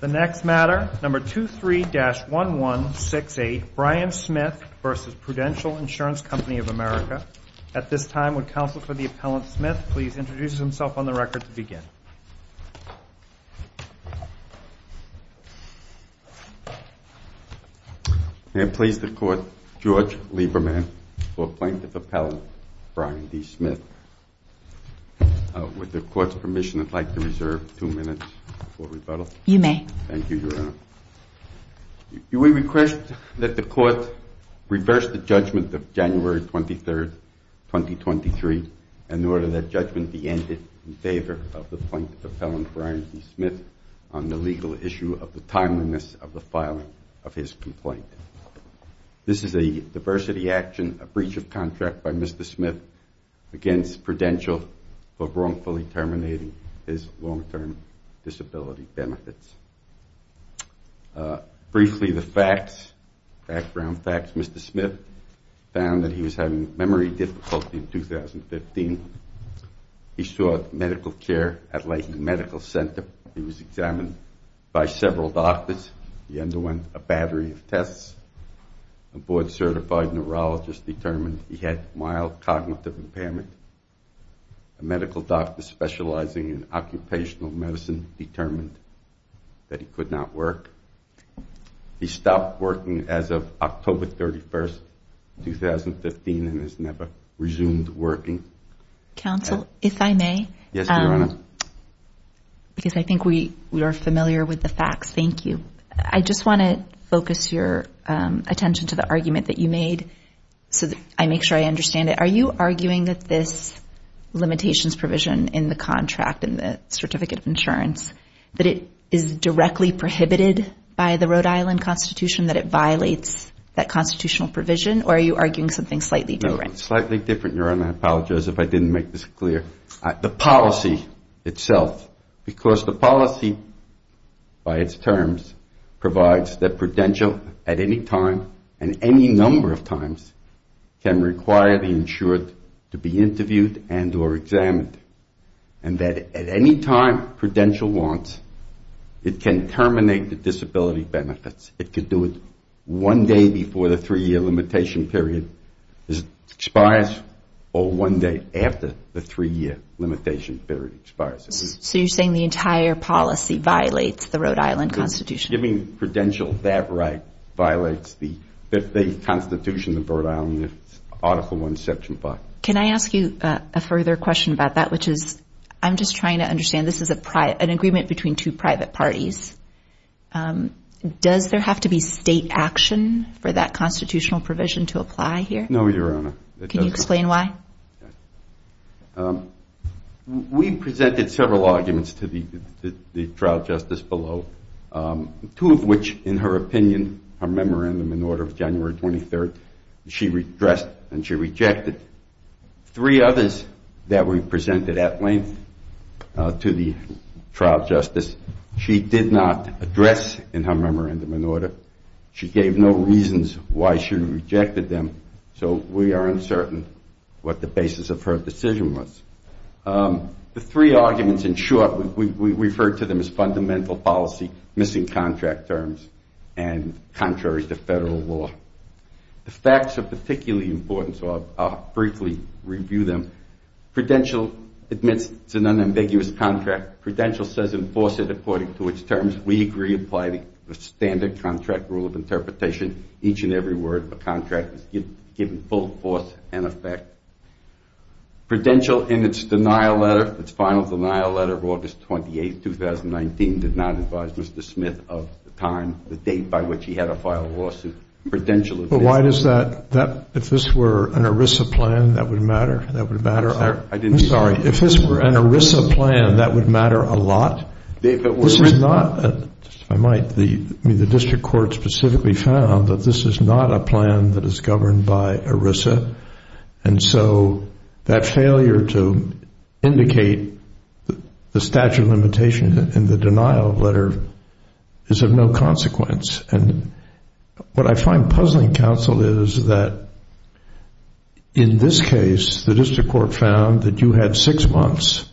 The next matter, number 23-1168, Brian Smith v. Prudential Insurance Company of America. At this time, would counsel for the Appellant Smith please introduce himself on the record to begin? May it please the Court, George Lieberman for Plaintiff Appellant Brian D. Smith. With the Court's permission, I'd like to reserve two minutes for rebuttal. You may. Thank you, Your Honor. We request that the Court reverse the judgment of January 23, 2023, in order that judgment be ended in favor of the Plaintiff Appellant Brian D. Smith on the legal issue of the timeliness of the filing of his complaint. This is a diversity action, a breach of contract by Mr. Smith against Prudential for wrongfully terminating his long-term disability benefits. Briefly, the facts, background facts, Mr. Smith found that he was having memory difficulty in 2015. He sought medical care at Lahey Medical Center. He was examined by several doctors. He underwent a battery of tests. A board-certified neurologist determined he had mild cognitive impairment. A medical doctor specializing in occupational medicine determined that he could not work. He stopped working as of October 31, 2015, and has never resumed working. Counsel, if I may? Yes, Your Honor. Because I think we are familiar with the facts. Thank you. I just want to focus your attention to the argument that you made so that I make sure I understand it. Are you arguing that this limitations provision in the contract, in the certificate of insurance, that it is directly prohibited by the Rhode Island Constitution, that it violates that constitutional provision? Or are you arguing something slightly different? Slightly different, Your Honor. I apologize if I didn't make this clear. The policy itself, because the policy by its terms provides that Prudential at any time and any number of times can require the insured to be interviewed and or examined, and that at any time Prudential wants, it can terminate the disability benefits. It could do it one day before the three-year limitation period expires or one day after the three-year limitation period expires. So you're saying the entire policy violates the Rhode Island Constitution? Giving Prudential that right violates the Constitution of Rhode Island, Article I, Section 5. Can I ask you a further question about that, which is I'm just trying to understand. This is an agreement between two private parties. Does there have to be state action for that constitutional provision to apply here? No, Your Honor. Can you explain why? We presented several arguments to the trial justice below, two of which, in her opinion, are memorandum in order of January 23rd. She addressed and she rejected three others that we presented at length to the trial justice. She did not address in her memorandum in order. She gave no reasons why she rejected them. So we are uncertain what the basis of her decision was. The three arguments, in short, we referred to them as fundamental policy, missing contract terms, and contrary to federal law. The facts are particularly important, so I'll briefly review them. Prudential admits it's an unambiguous contract. Prudential says enforce it according to its terms. We agree to apply the standard contract rule of interpretation. Each and every word of the contract is given full force and effect. Prudential, in its denial letter, its final denial letter of August 28th, 2019, did not advise Mr. Smith of the time, the date by which he had to file a lawsuit. Prudential admits it. But why does that, if this were an ERISA plan, that would matter? I'm sorry. If this were an ERISA plan, that would matter a lot? This is not, if I might, the district court specifically found that this is not a plan that is governed by ERISA. And so that failure to indicate the statute of limitations in the denial letter is of no consequence. And what I find puzzling, counsel, is that in this case, the district court found that you had six months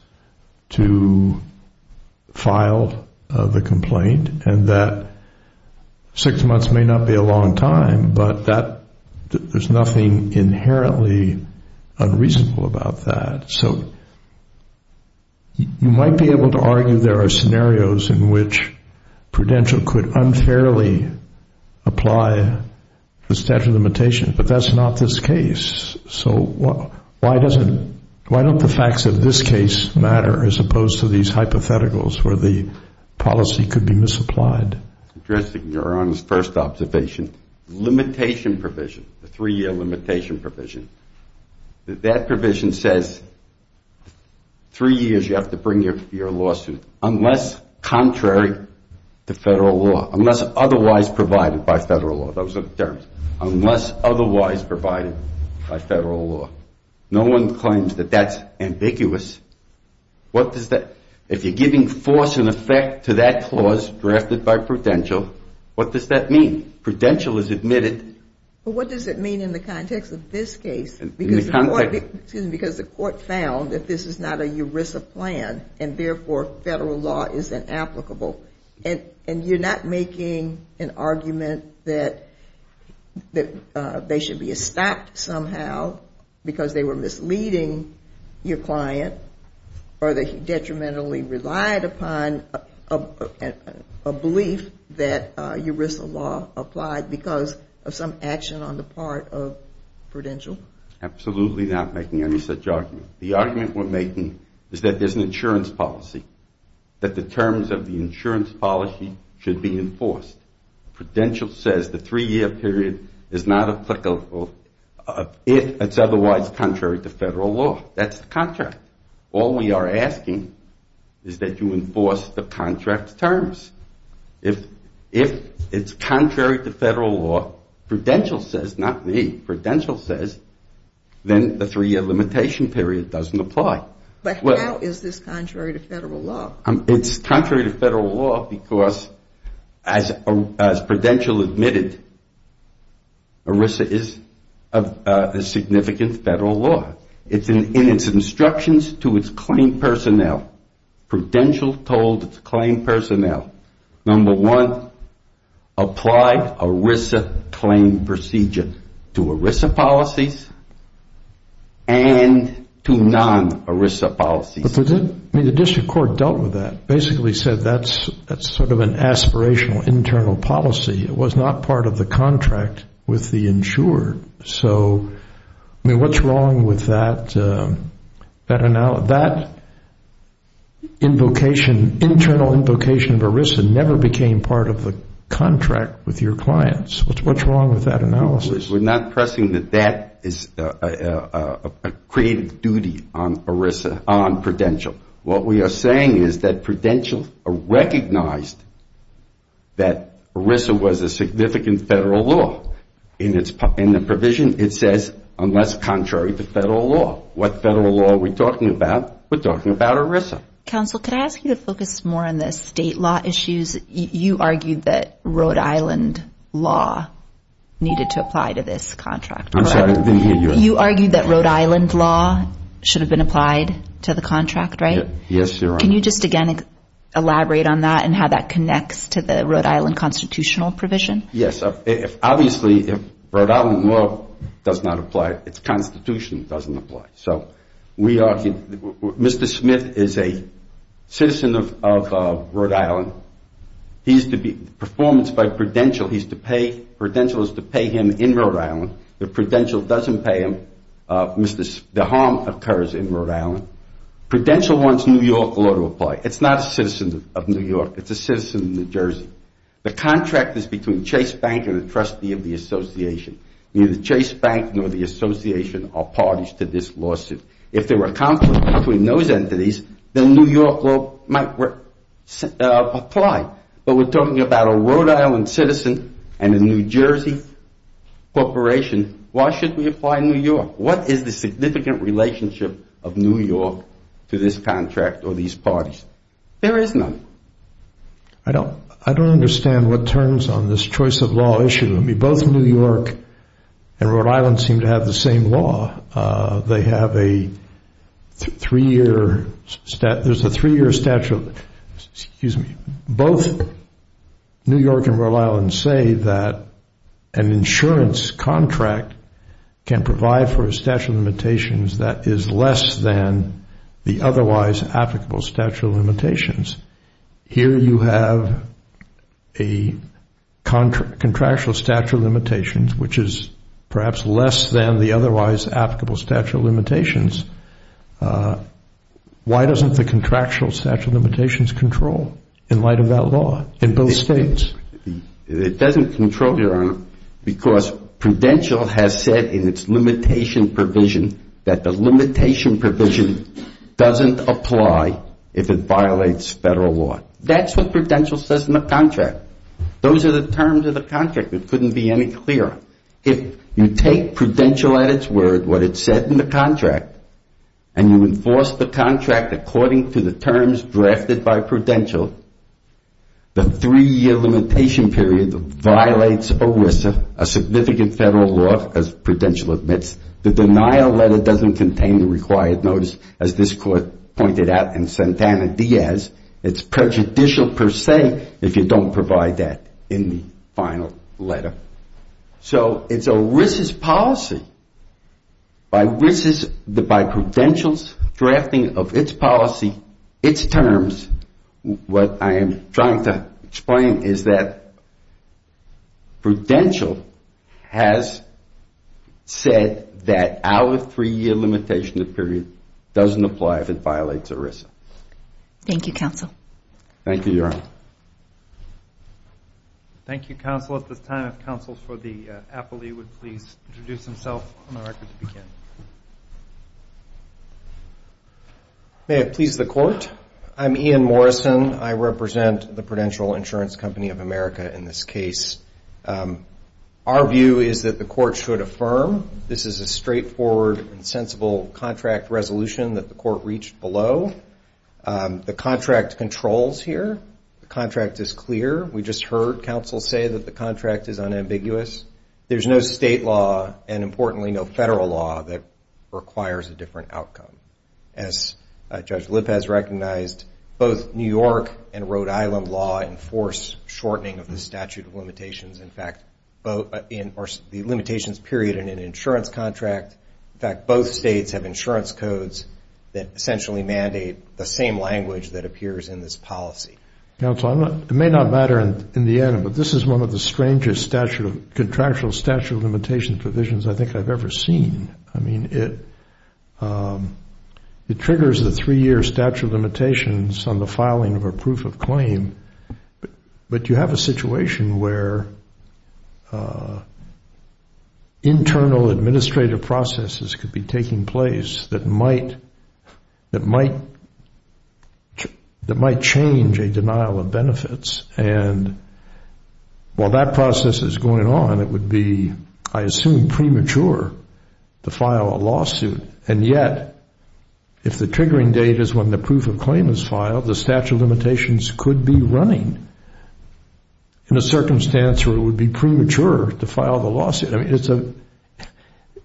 to file the complaint and that six months may not be a long time, but there's nothing inherently unreasonable about that. So you might be able to argue there are scenarios in which Prudential could unfairly apply the statute of limitations, but that's not this case. So why doesn't, why don't the facts of this case matter as opposed to these hypotheticals where the policy could be misapplied? Your Honor's first observation, limitation provision, the three-year limitation provision, that that provision says three years you have to bring your lawsuit unless contrary to federal law, unless otherwise provided by federal law. Those are the terms. Unless otherwise provided by federal law. No one claims that that's ambiguous. What does that, if you're giving force and effect to that clause drafted by Prudential, what does that mean? Prudential has admitted. But what does it mean in the context of this case? Because the court found that this is not a ERISA plan and therefore federal law is inapplicable. And you're not making an argument that they should be stopped somehow because they were misleading your client or they detrimentally relied upon a belief that ERISA law applied because of some action on the part of Prudential? Absolutely not making any such argument. The argument we're making is that there's an insurance policy, that the terms of the insurance policy should be enforced. Prudential says the three-year period is not applicable if it's otherwise contrary to federal law. That's the contract. All we are asking is that you enforce the contract terms. If it's contrary to federal law, Prudential says, not me, Prudential says, then the three-year limitation period doesn't apply. But how is this contrary to federal law? It's contrary to federal law because, as Prudential admitted, ERISA is a significant federal law. In its instructions to its claim personnel, Prudential told its claim personnel, number one, apply ERISA claim procedure to ERISA policies and to non-ERISA policies. The district court dealt with that, basically said that's sort of an aspirational internal policy. It was not part of the contract with the insured. So, I mean, what's wrong with that? That invocation, internal invocation of ERISA never became part of the contract with your clients. What's wrong with that analysis? We're not pressing that that is a creative duty on ERISA, on Prudential. What we are saying is that Prudential recognized that ERISA was a significant federal law. In the provision, it says, unless contrary to federal law. What federal law are we talking about? We're talking about ERISA. Counsel, can I ask you to focus more on the state law issues? You argued that Rhode Island law needed to apply to this contract. I'm sorry, I didn't hear you. You argued that Rhode Island law should have been applied to the contract, right? Yes, you're right. Can you just again elaborate on that and how that connects to the Rhode Island constitutional provision? Yes. Obviously, Rhode Island law does not apply. Its constitution doesn't apply. So, Mr. Smith is a citizen of Rhode Island. He used to be performance by Prudential. Prudential used to pay him in Rhode Island. If Prudential doesn't pay him, the harm occurs in Rhode Island. Prudential wants New York law to apply. It's not a citizen of New York. It's a citizen of New Jersey. The contract is between Chase Bank and a trustee of the association. Neither Chase Bank nor the association are parties to this lawsuit. If there were a conflict between those entities, then New York law might apply. But we're talking about a Rhode Island citizen and a New Jersey corporation. Why should we apply New York? What is the significant relationship of New York to this contract or these parties? There is none. I don't understand what turns on this choice of law issue. I mean, both New York and Rhode Island seem to have the same law. They have a three-year statute. Both New York and Rhode Island say that an insurance contract can provide for a statute of limitations that is less than the otherwise applicable statute of limitations. Here you have a contractual statute of limitations, which is perhaps less than the otherwise applicable statute of limitations. Why doesn't the contractual statute of limitations control in light of that law in both states? It doesn't control, Your Honor, because Prudential has said in its limitation provision that the limitation provision doesn't apply if it violates federal law. That's what Prudential says in the contract. Those are the terms of the contract. It couldn't be any clearer. If you take Prudential at its word, what it said in the contract, and you enforce the contract according to the terms drafted by Prudential, the three-year limitation period violates ERISA, a significant federal law, as Prudential admits. The denial letter doesn't contain the required notice, as this Court pointed out in Santana-Diaz. It's prejudicial per se if you don't provide that in the final letter. So it's ERISA's policy. By Prudential's drafting of its policy, its terms, what I am trying to explain is that Prudential has said that our three-year limitation period doesn't apply if it violates ERISA. Thank you, counsel. Thank you, Your Honor. Thank you, counsel. At this time, if counsel for the appellee would please introduce himself on the record to begin. May it please the Court? I'm Ian Morrison. I represent the Prudential Insurance Company of America in this case. Our view is that the Court should affirm this is a straightforward and sensible contract resolution that the Court reached below. The contract controls here. The contract is clear. We just heard counsel say that the contract is unambiguous. There's no state law and, importantly, no federal law that requires a different outcome. As Judge Lipp has recognized, both New York and Rhode Island law enforce shortening of the statute of limitations. In fact, both enforce the limitations period in an insurance contract. In fact, both states have insurance codes that essentially mandate the same language that appears in this policy. Counsel, it may not matter in the end, but this is one of the strangest contractual statute of limitations provisions I think I've ever seen. I mean, it triggers the three-year statute of limitations on the filing of a proof of claim, but you have a situation where internal administrative processes could be taking place that might change a denial of benefits, and while that process is going on, it would be, I assume, premature to file a lawsuit, and yet if the triggering date is when the proof of claim is filed, the statute of limitations could be running in a circumstance where it would be premature to file the lawsuit. I mean,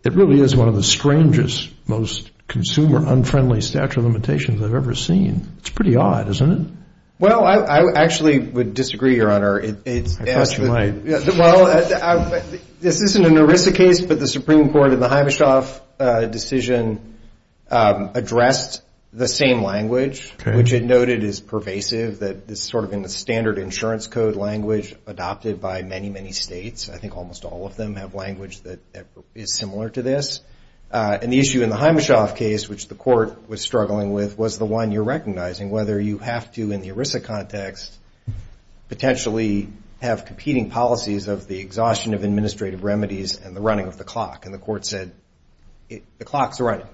it really is one of the strangest, most consumer-unfriendly statute of limitations I've ever seen. It's pretty odd, isn't it? Well, I actually would disagree, Your Honor. I trust you might. Well, this isn't an ERISA case, but the Supreme Court in the Himeshoff decision addressed the same language, which it noted is pervasive, that it's sort of in the standard insurance code language adopted by many, many states. I think almost all of them have language that is similar to this, and the issue in the Himeshoff case, which the court was struggling with, was the one you're recognizing, whether you have to, in the ERISA context, potentially have competing policies of the exhaustion of administrative remedies and the running of the clock, and the court said, the clock's running,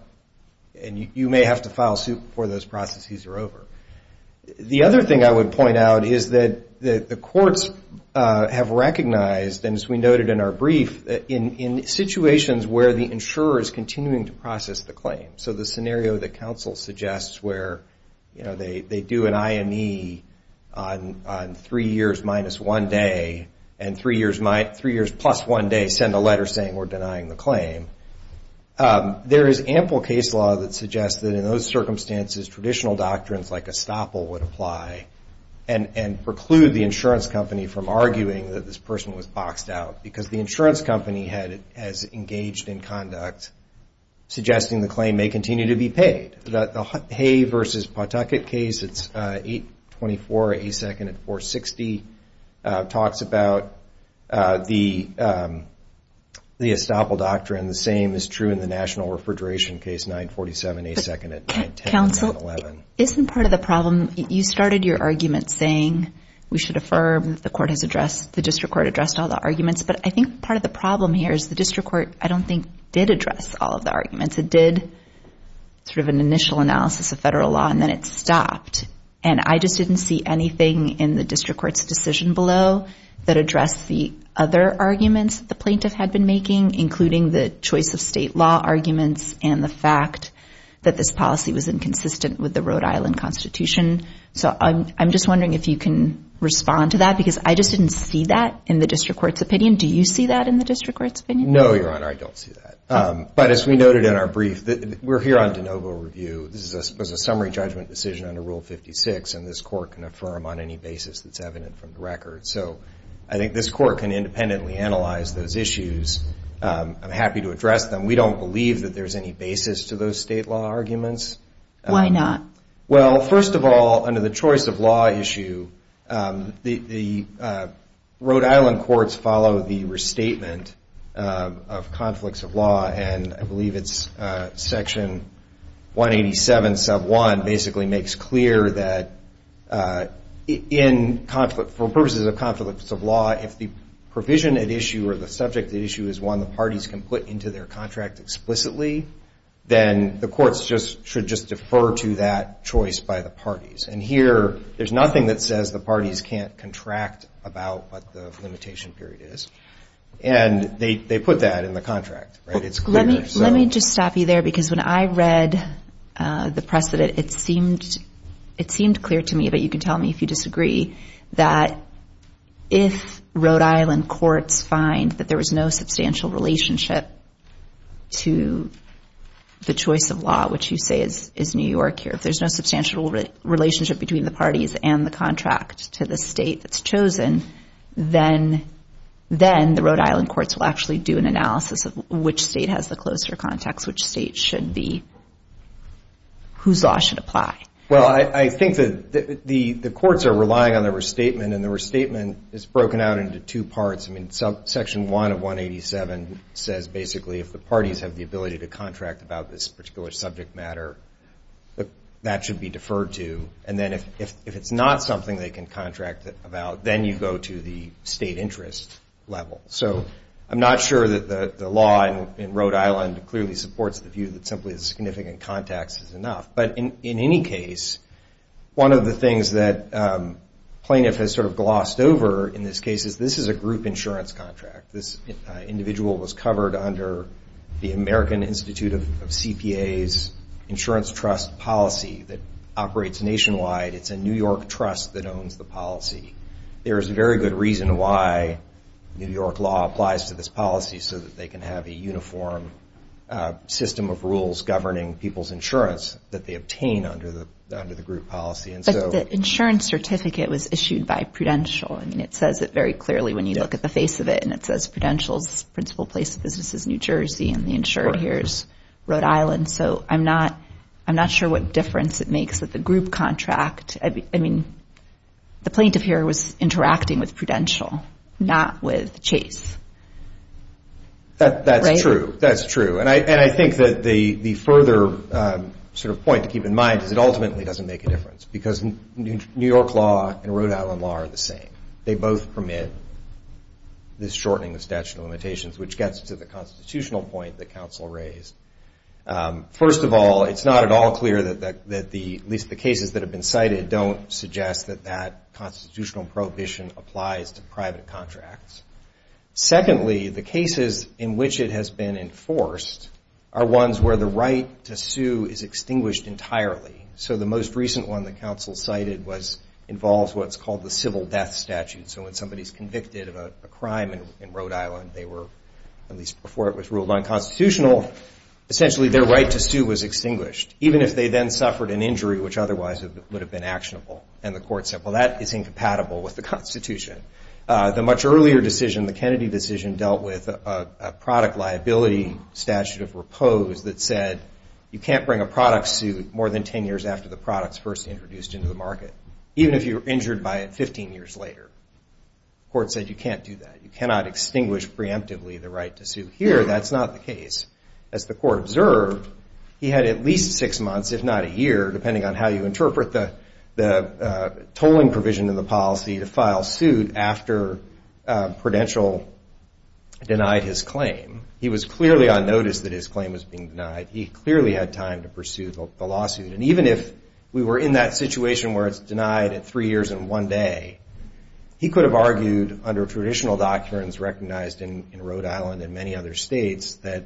and you may have to file a suit before those processes are over. The other thing I would point out is that the courts have recognized, and as we noted in our brief, in situations where the insurer is continuing to process the claim, so the scenario that counsel suggests where they do an IME on three years minus one day, and three years plus one day send a letter saying we're denying the claim, there is ample case law that suggests that in those circumstances, traditional doctrines like estoppel would apply, and preclude the insurance company from arguing that this person was boxed out, because the insurance company has engaged in conduct suggesting the claim may continue to be paid. The Hay versus Pawtucket case, it's 824A2nd at 460, talks about the estoppel doctrine, the same is true in the national refrigeration case, 947A2nd at 910 and 911. Counsel, isn't part of the problem, you started your argument saying we should affirm, the court has addressed, the district court addressed all the arguments, but I think part of the problem here is the district court I don't think did address all of the arguments, it did sort of an initial analysis of federal law and then it stopped, and I just didn't see anything in the district court's decision below that addressed the other arguments the plaintiff had been making, including the choice of state law arguments, and the fact that this policy was inconsistent with the Rhode Island constitution, so I'm just wondering if you can respond to that, because I just didn't see that in the district court's opinion, do you see that in the district court's opinion? No, your honor, I don't see that, but as we noted in our brief, we're here on de novo review, this was a summary judgment decision under rule 56 and this court can affirm on any basis that's evident from the record, so I think this court can independently analyze those issues, I'm happy to address them, we don't believe that there's any basis to those state law arguments. Why not? Well, first of all, under the choice of law issue, the Rhode Island courts follow the restatement of conflicts of law, and I believe it's section 187 sub 1 basically makes clear that for purposes of conflicts of law, if the provision at issue or the subject at issue is one the parties can put into their contract explicitly, then the courts should just defer to that choice by the parties, and here there's nothing that says the parties can't contract about what the limitation period is, and they put that in the contract. Let me just stop you there, because when I read the precedent, it seemed clear to me, but you can tell me if you disagree, that if Rhode Island courts find that there was no substantial relationship to the choice of law, which you say is New York here, if there's no substantial relationship between the parties and the contract to the state that's chosen, then the Rhode Island courts will actually do an analysis of which state has the closer context, which state should be, whose law should apply. Well, I think that the courts are relying on the restatement, and the restatement is broken out into two parts. I mean, section 1 of 187 says basically if the parties have the ability to contract about this particular subject matter, that that should be deferred to, and then if it's not something they can contract about, then you go to the state interest level. So I'm not sure that the law in Rhode Island clearly supports the view that simply the significant context is enough, but in any case, one of the things that Plaintiff has sort of glossed over in this case is this is a group insurance contract. This individual was covered under the American Institute of CPA's insurance trust policy that operates nationwide. It's a New York trust that owns the policy. There is a very good reason why New York law applies to this policy, so that they can have a uniform system of rules governing people's insurance that they obtain under the group policy. But the insurance certificate was issued by Prudential. I mean, it says it very clearly when you look at the face of it, and it says Prudential's principal place of business is New Jersey, and the insured here is Rhode Island. So I'm not sure what difference it makes that the group contract, I mean, the plaintiff here was interacting with Prudential, not with Chase. That's true. That's true. And I think that the further sort of point to keep in mind is it ultimately doesn't make a difference, because New York law and Rhode Island law are the same. They both permit this shortening of statute of limitations, which gets to the constitutional point that counsel raised. First of all, it's not at all clear that at least the cases that have been cited don't suggest that that constitutional prohibition applies to private contracts. Secondly, the cases in which it has been enforced are ones where the right to sue is extinguished entirely. So the most recent one that counsel cited involves what's called the civil death statute. So when somebody's convicted of a crime in Rhode Island, they were, at least before it was ruled unconstitutional, essentially their right to sue was extinguished, even if they then suffered an injury which otherwise would have been actionable. And the court said, well, that is incompatible with the Constitution. The much earlier decision, the Kennedy decision, dealt with a product liability statute of repose that said you can't bring a product sued more than 10 years after the product's first introduced into the market, even if you were injured by it 15 years later. The court said you can't do that. You cannot extinguish preemptively the right to sue. Here, that's not the case. As the court observed, he had at least six months, if not a year, depending on how you interpret the tolling provision in the policy, to file suit after Prudential denied his claim. He was clearly on notice that his claim was being denied. He clearly had time to pursue the lawsuit. And even if we were in that situation where it's denied at three years and one day, he could have argued under traditional doctrines recognized in Rhode Island and many other states that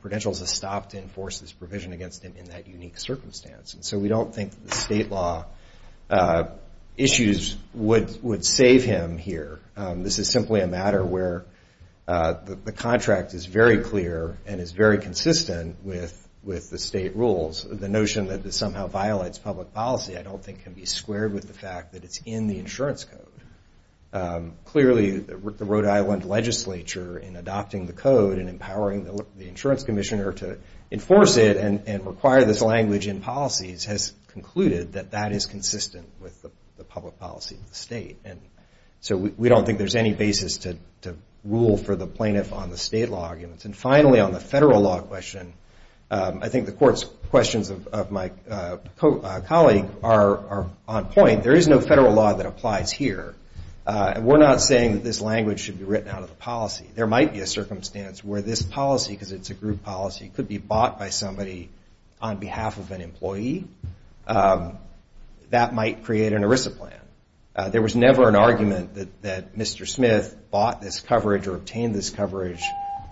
Prudential has stopped to enforce this provision against him in that unique circumstance. And so we don't think the state law issues would save him here. This is simply a matter where the contract is very clear and is very consistent with the state rules. The notion that this somehow violates public policy, I don't think, can be squared with the fact that it's in the insurance code. Clearly, the Rhode Island legislature, in adopting the code and empowering the insurance commissioner to enforce it and require this language in policies, has concluded that that is consistent with the public policy of the state. And so we don't think there's any basis to rule for the plaintiff on the state law arguments. And finally, on the federal law question, I think the court's questions of my colleague are on point. There is no federal law that applies here. We're not saying that this language should be written out of the policy. There might be a circumstance where this policy, because it's a group policy, could be bought by somebody on behalf of an employee. There's never an argument that Mr. Smith bought this coverage or obtained this coverage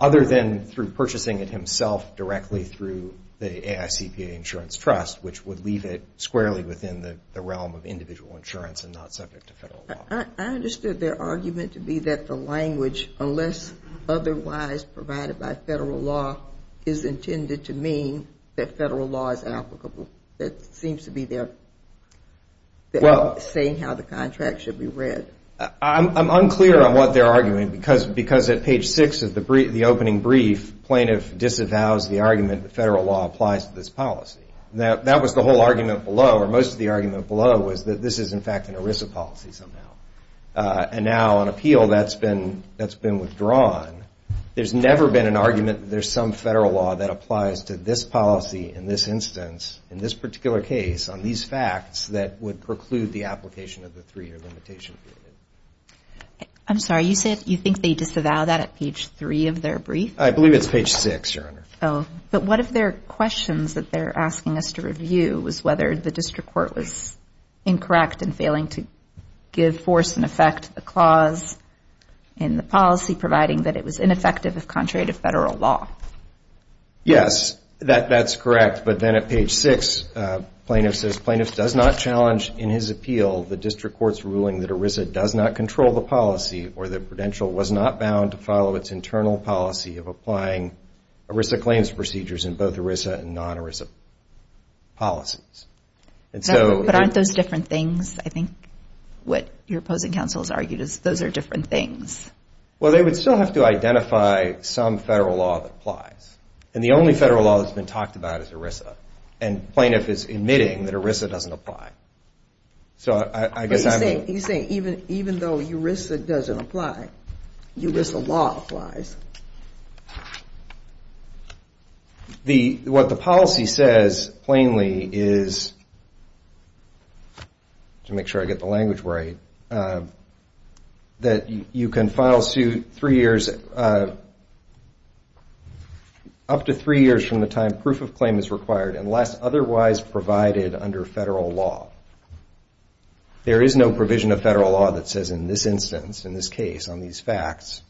other than through purchasing it himself directly through the AICPA Insurance Trust, which would leave it squarely within the realm of individual insurance and not subject to federal law. I understood their argument to be that the language, unless otherwise provided by federal law, is intended to mean that federal law is applicable. That seems to be their saying how the contract should be read. I'm unclear on what they're arguing, because at page 6 of the opening brief, plaintiff disavows the argument that federal law applies to this policy. That was the whole argument below, or most of the argument below was that this is, in fact, an ERISA policy somehow. And now on appeal, that's been withdrawn. There's never been an argument that there's some federal law that applies to this policy in this instance, in this particular case, on these facts that would preclude the application of the 3-year limitation period. I'm sorry, you think they disavowed that at page 3 of their brief? I believe it's page 6, Your Honor. But one of their questions that they're asking us to review was whether the district court was incorrect in failing to give force and effect to the clause in the policy, providing that it was ineffective if contrary to federal law. Yes, that's correct. But then at page 6, plaintiff says, plaintiff does not challenge in his appeal the district court's ruling that ERISA does not control the policy, or the credential was not bound to follow its internal policy of applying ERISA claims procedures in both ERISA and non-ERISA policies. But aren't those different things? I think what your opposing counsel has argued is those are different things. Well, they would still have to identify some federal law that applies. And the only federal law that's been talked about is ERISA. And plaintiff is admitting that ERISA doesn't apply. But he's saying even though ERISA doesn't apply, ERISA law applies. What the policy says plainly is, to make sure I get the language right, that you can file suit up to three years from the time proof of claim is required unless otherwise provided under federal law. There is no provision of federal law that says in this instance, in this case, on these facts,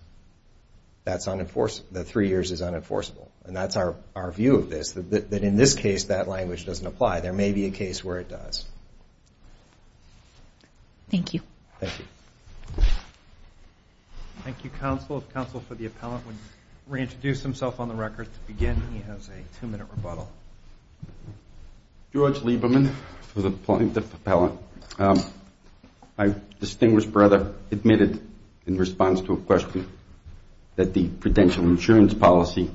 that three years is unenforceable. And that's our view of this, that in this case that language doesn't apply. There may be a case where it does. Thank you. Thank you, counsel. If counsel for the appellant would reintroduce himself on the record to begin, he has a two-minute rebuttal. George Lieberman for the plaintiff appellant. I, distinguished brother, admitted in response to a question that the prudential insurance policy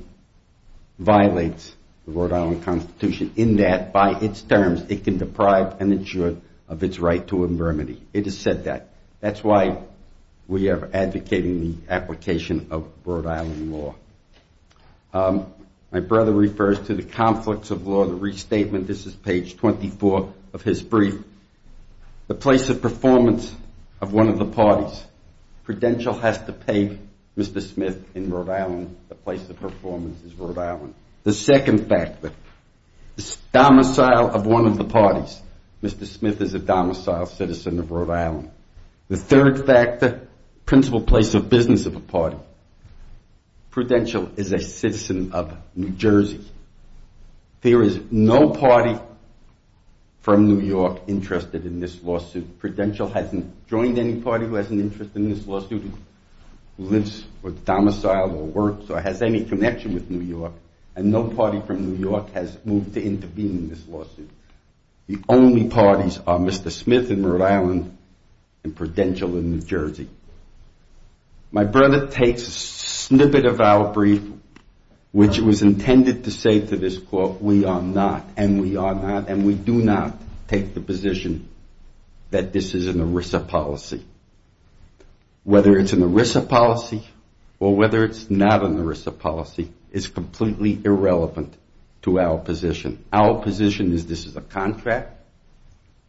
violates the Rhode Island Constitution, in that, by its terms, it can deprive an insurer of its right to infirmity. It has said that. That's why we are advocating the application of Rhode Island law. My brother refers to the conflicts of law, the restatement, this is page 24 of his brief. The place of performance of one of the parties. Prudential has to pay Mr. Smith in Rhode Island, the place of performance is Rhode Island. The second factor, domicile of one of the parties. Mr. Smith is a domicile citizen of Rhode Island. The third factor, principal place of business of a party. Prudential is a citizen of New Jersey. There is no party from New York interested in this lawsuit. Prudential hasn't joined any party who has an interest in this lawsuit, who lives or domiciles or works or has any connection with New York, and no party from New York has moved to intervene in this lawsuit. The only parties are Mr. Smith in Rhode Island and Prudential in New Jersey. My brother takes a snippet of our brief, which was intended to say to this court, we are not, and we are not, and we do not take the position that this is an ERISA policy. Whether it's an ERISA policy or whether it's not an ERISA policy is completely irrelevant to our position. Our position is this is a contract,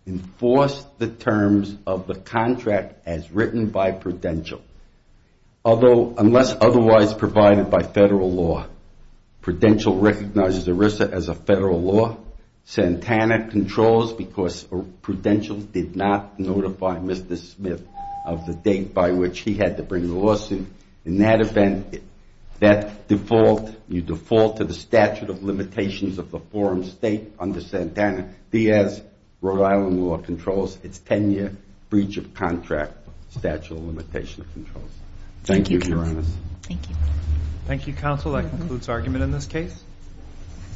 enforce the terms of the contract as written by Prudential. Unless otherwise provided by federal law, Prudential recognizes ERISA as a federal law, Santana controls because Prudential did not notify Mr. Smith of the date by which he had to bring the lawsuit. In that event, you default to the statute of limitations of the forum state under Santana. Diaz, Rhode Island law, controls its 10-year breach of contract statute of limitations. Thank you, Your Honor.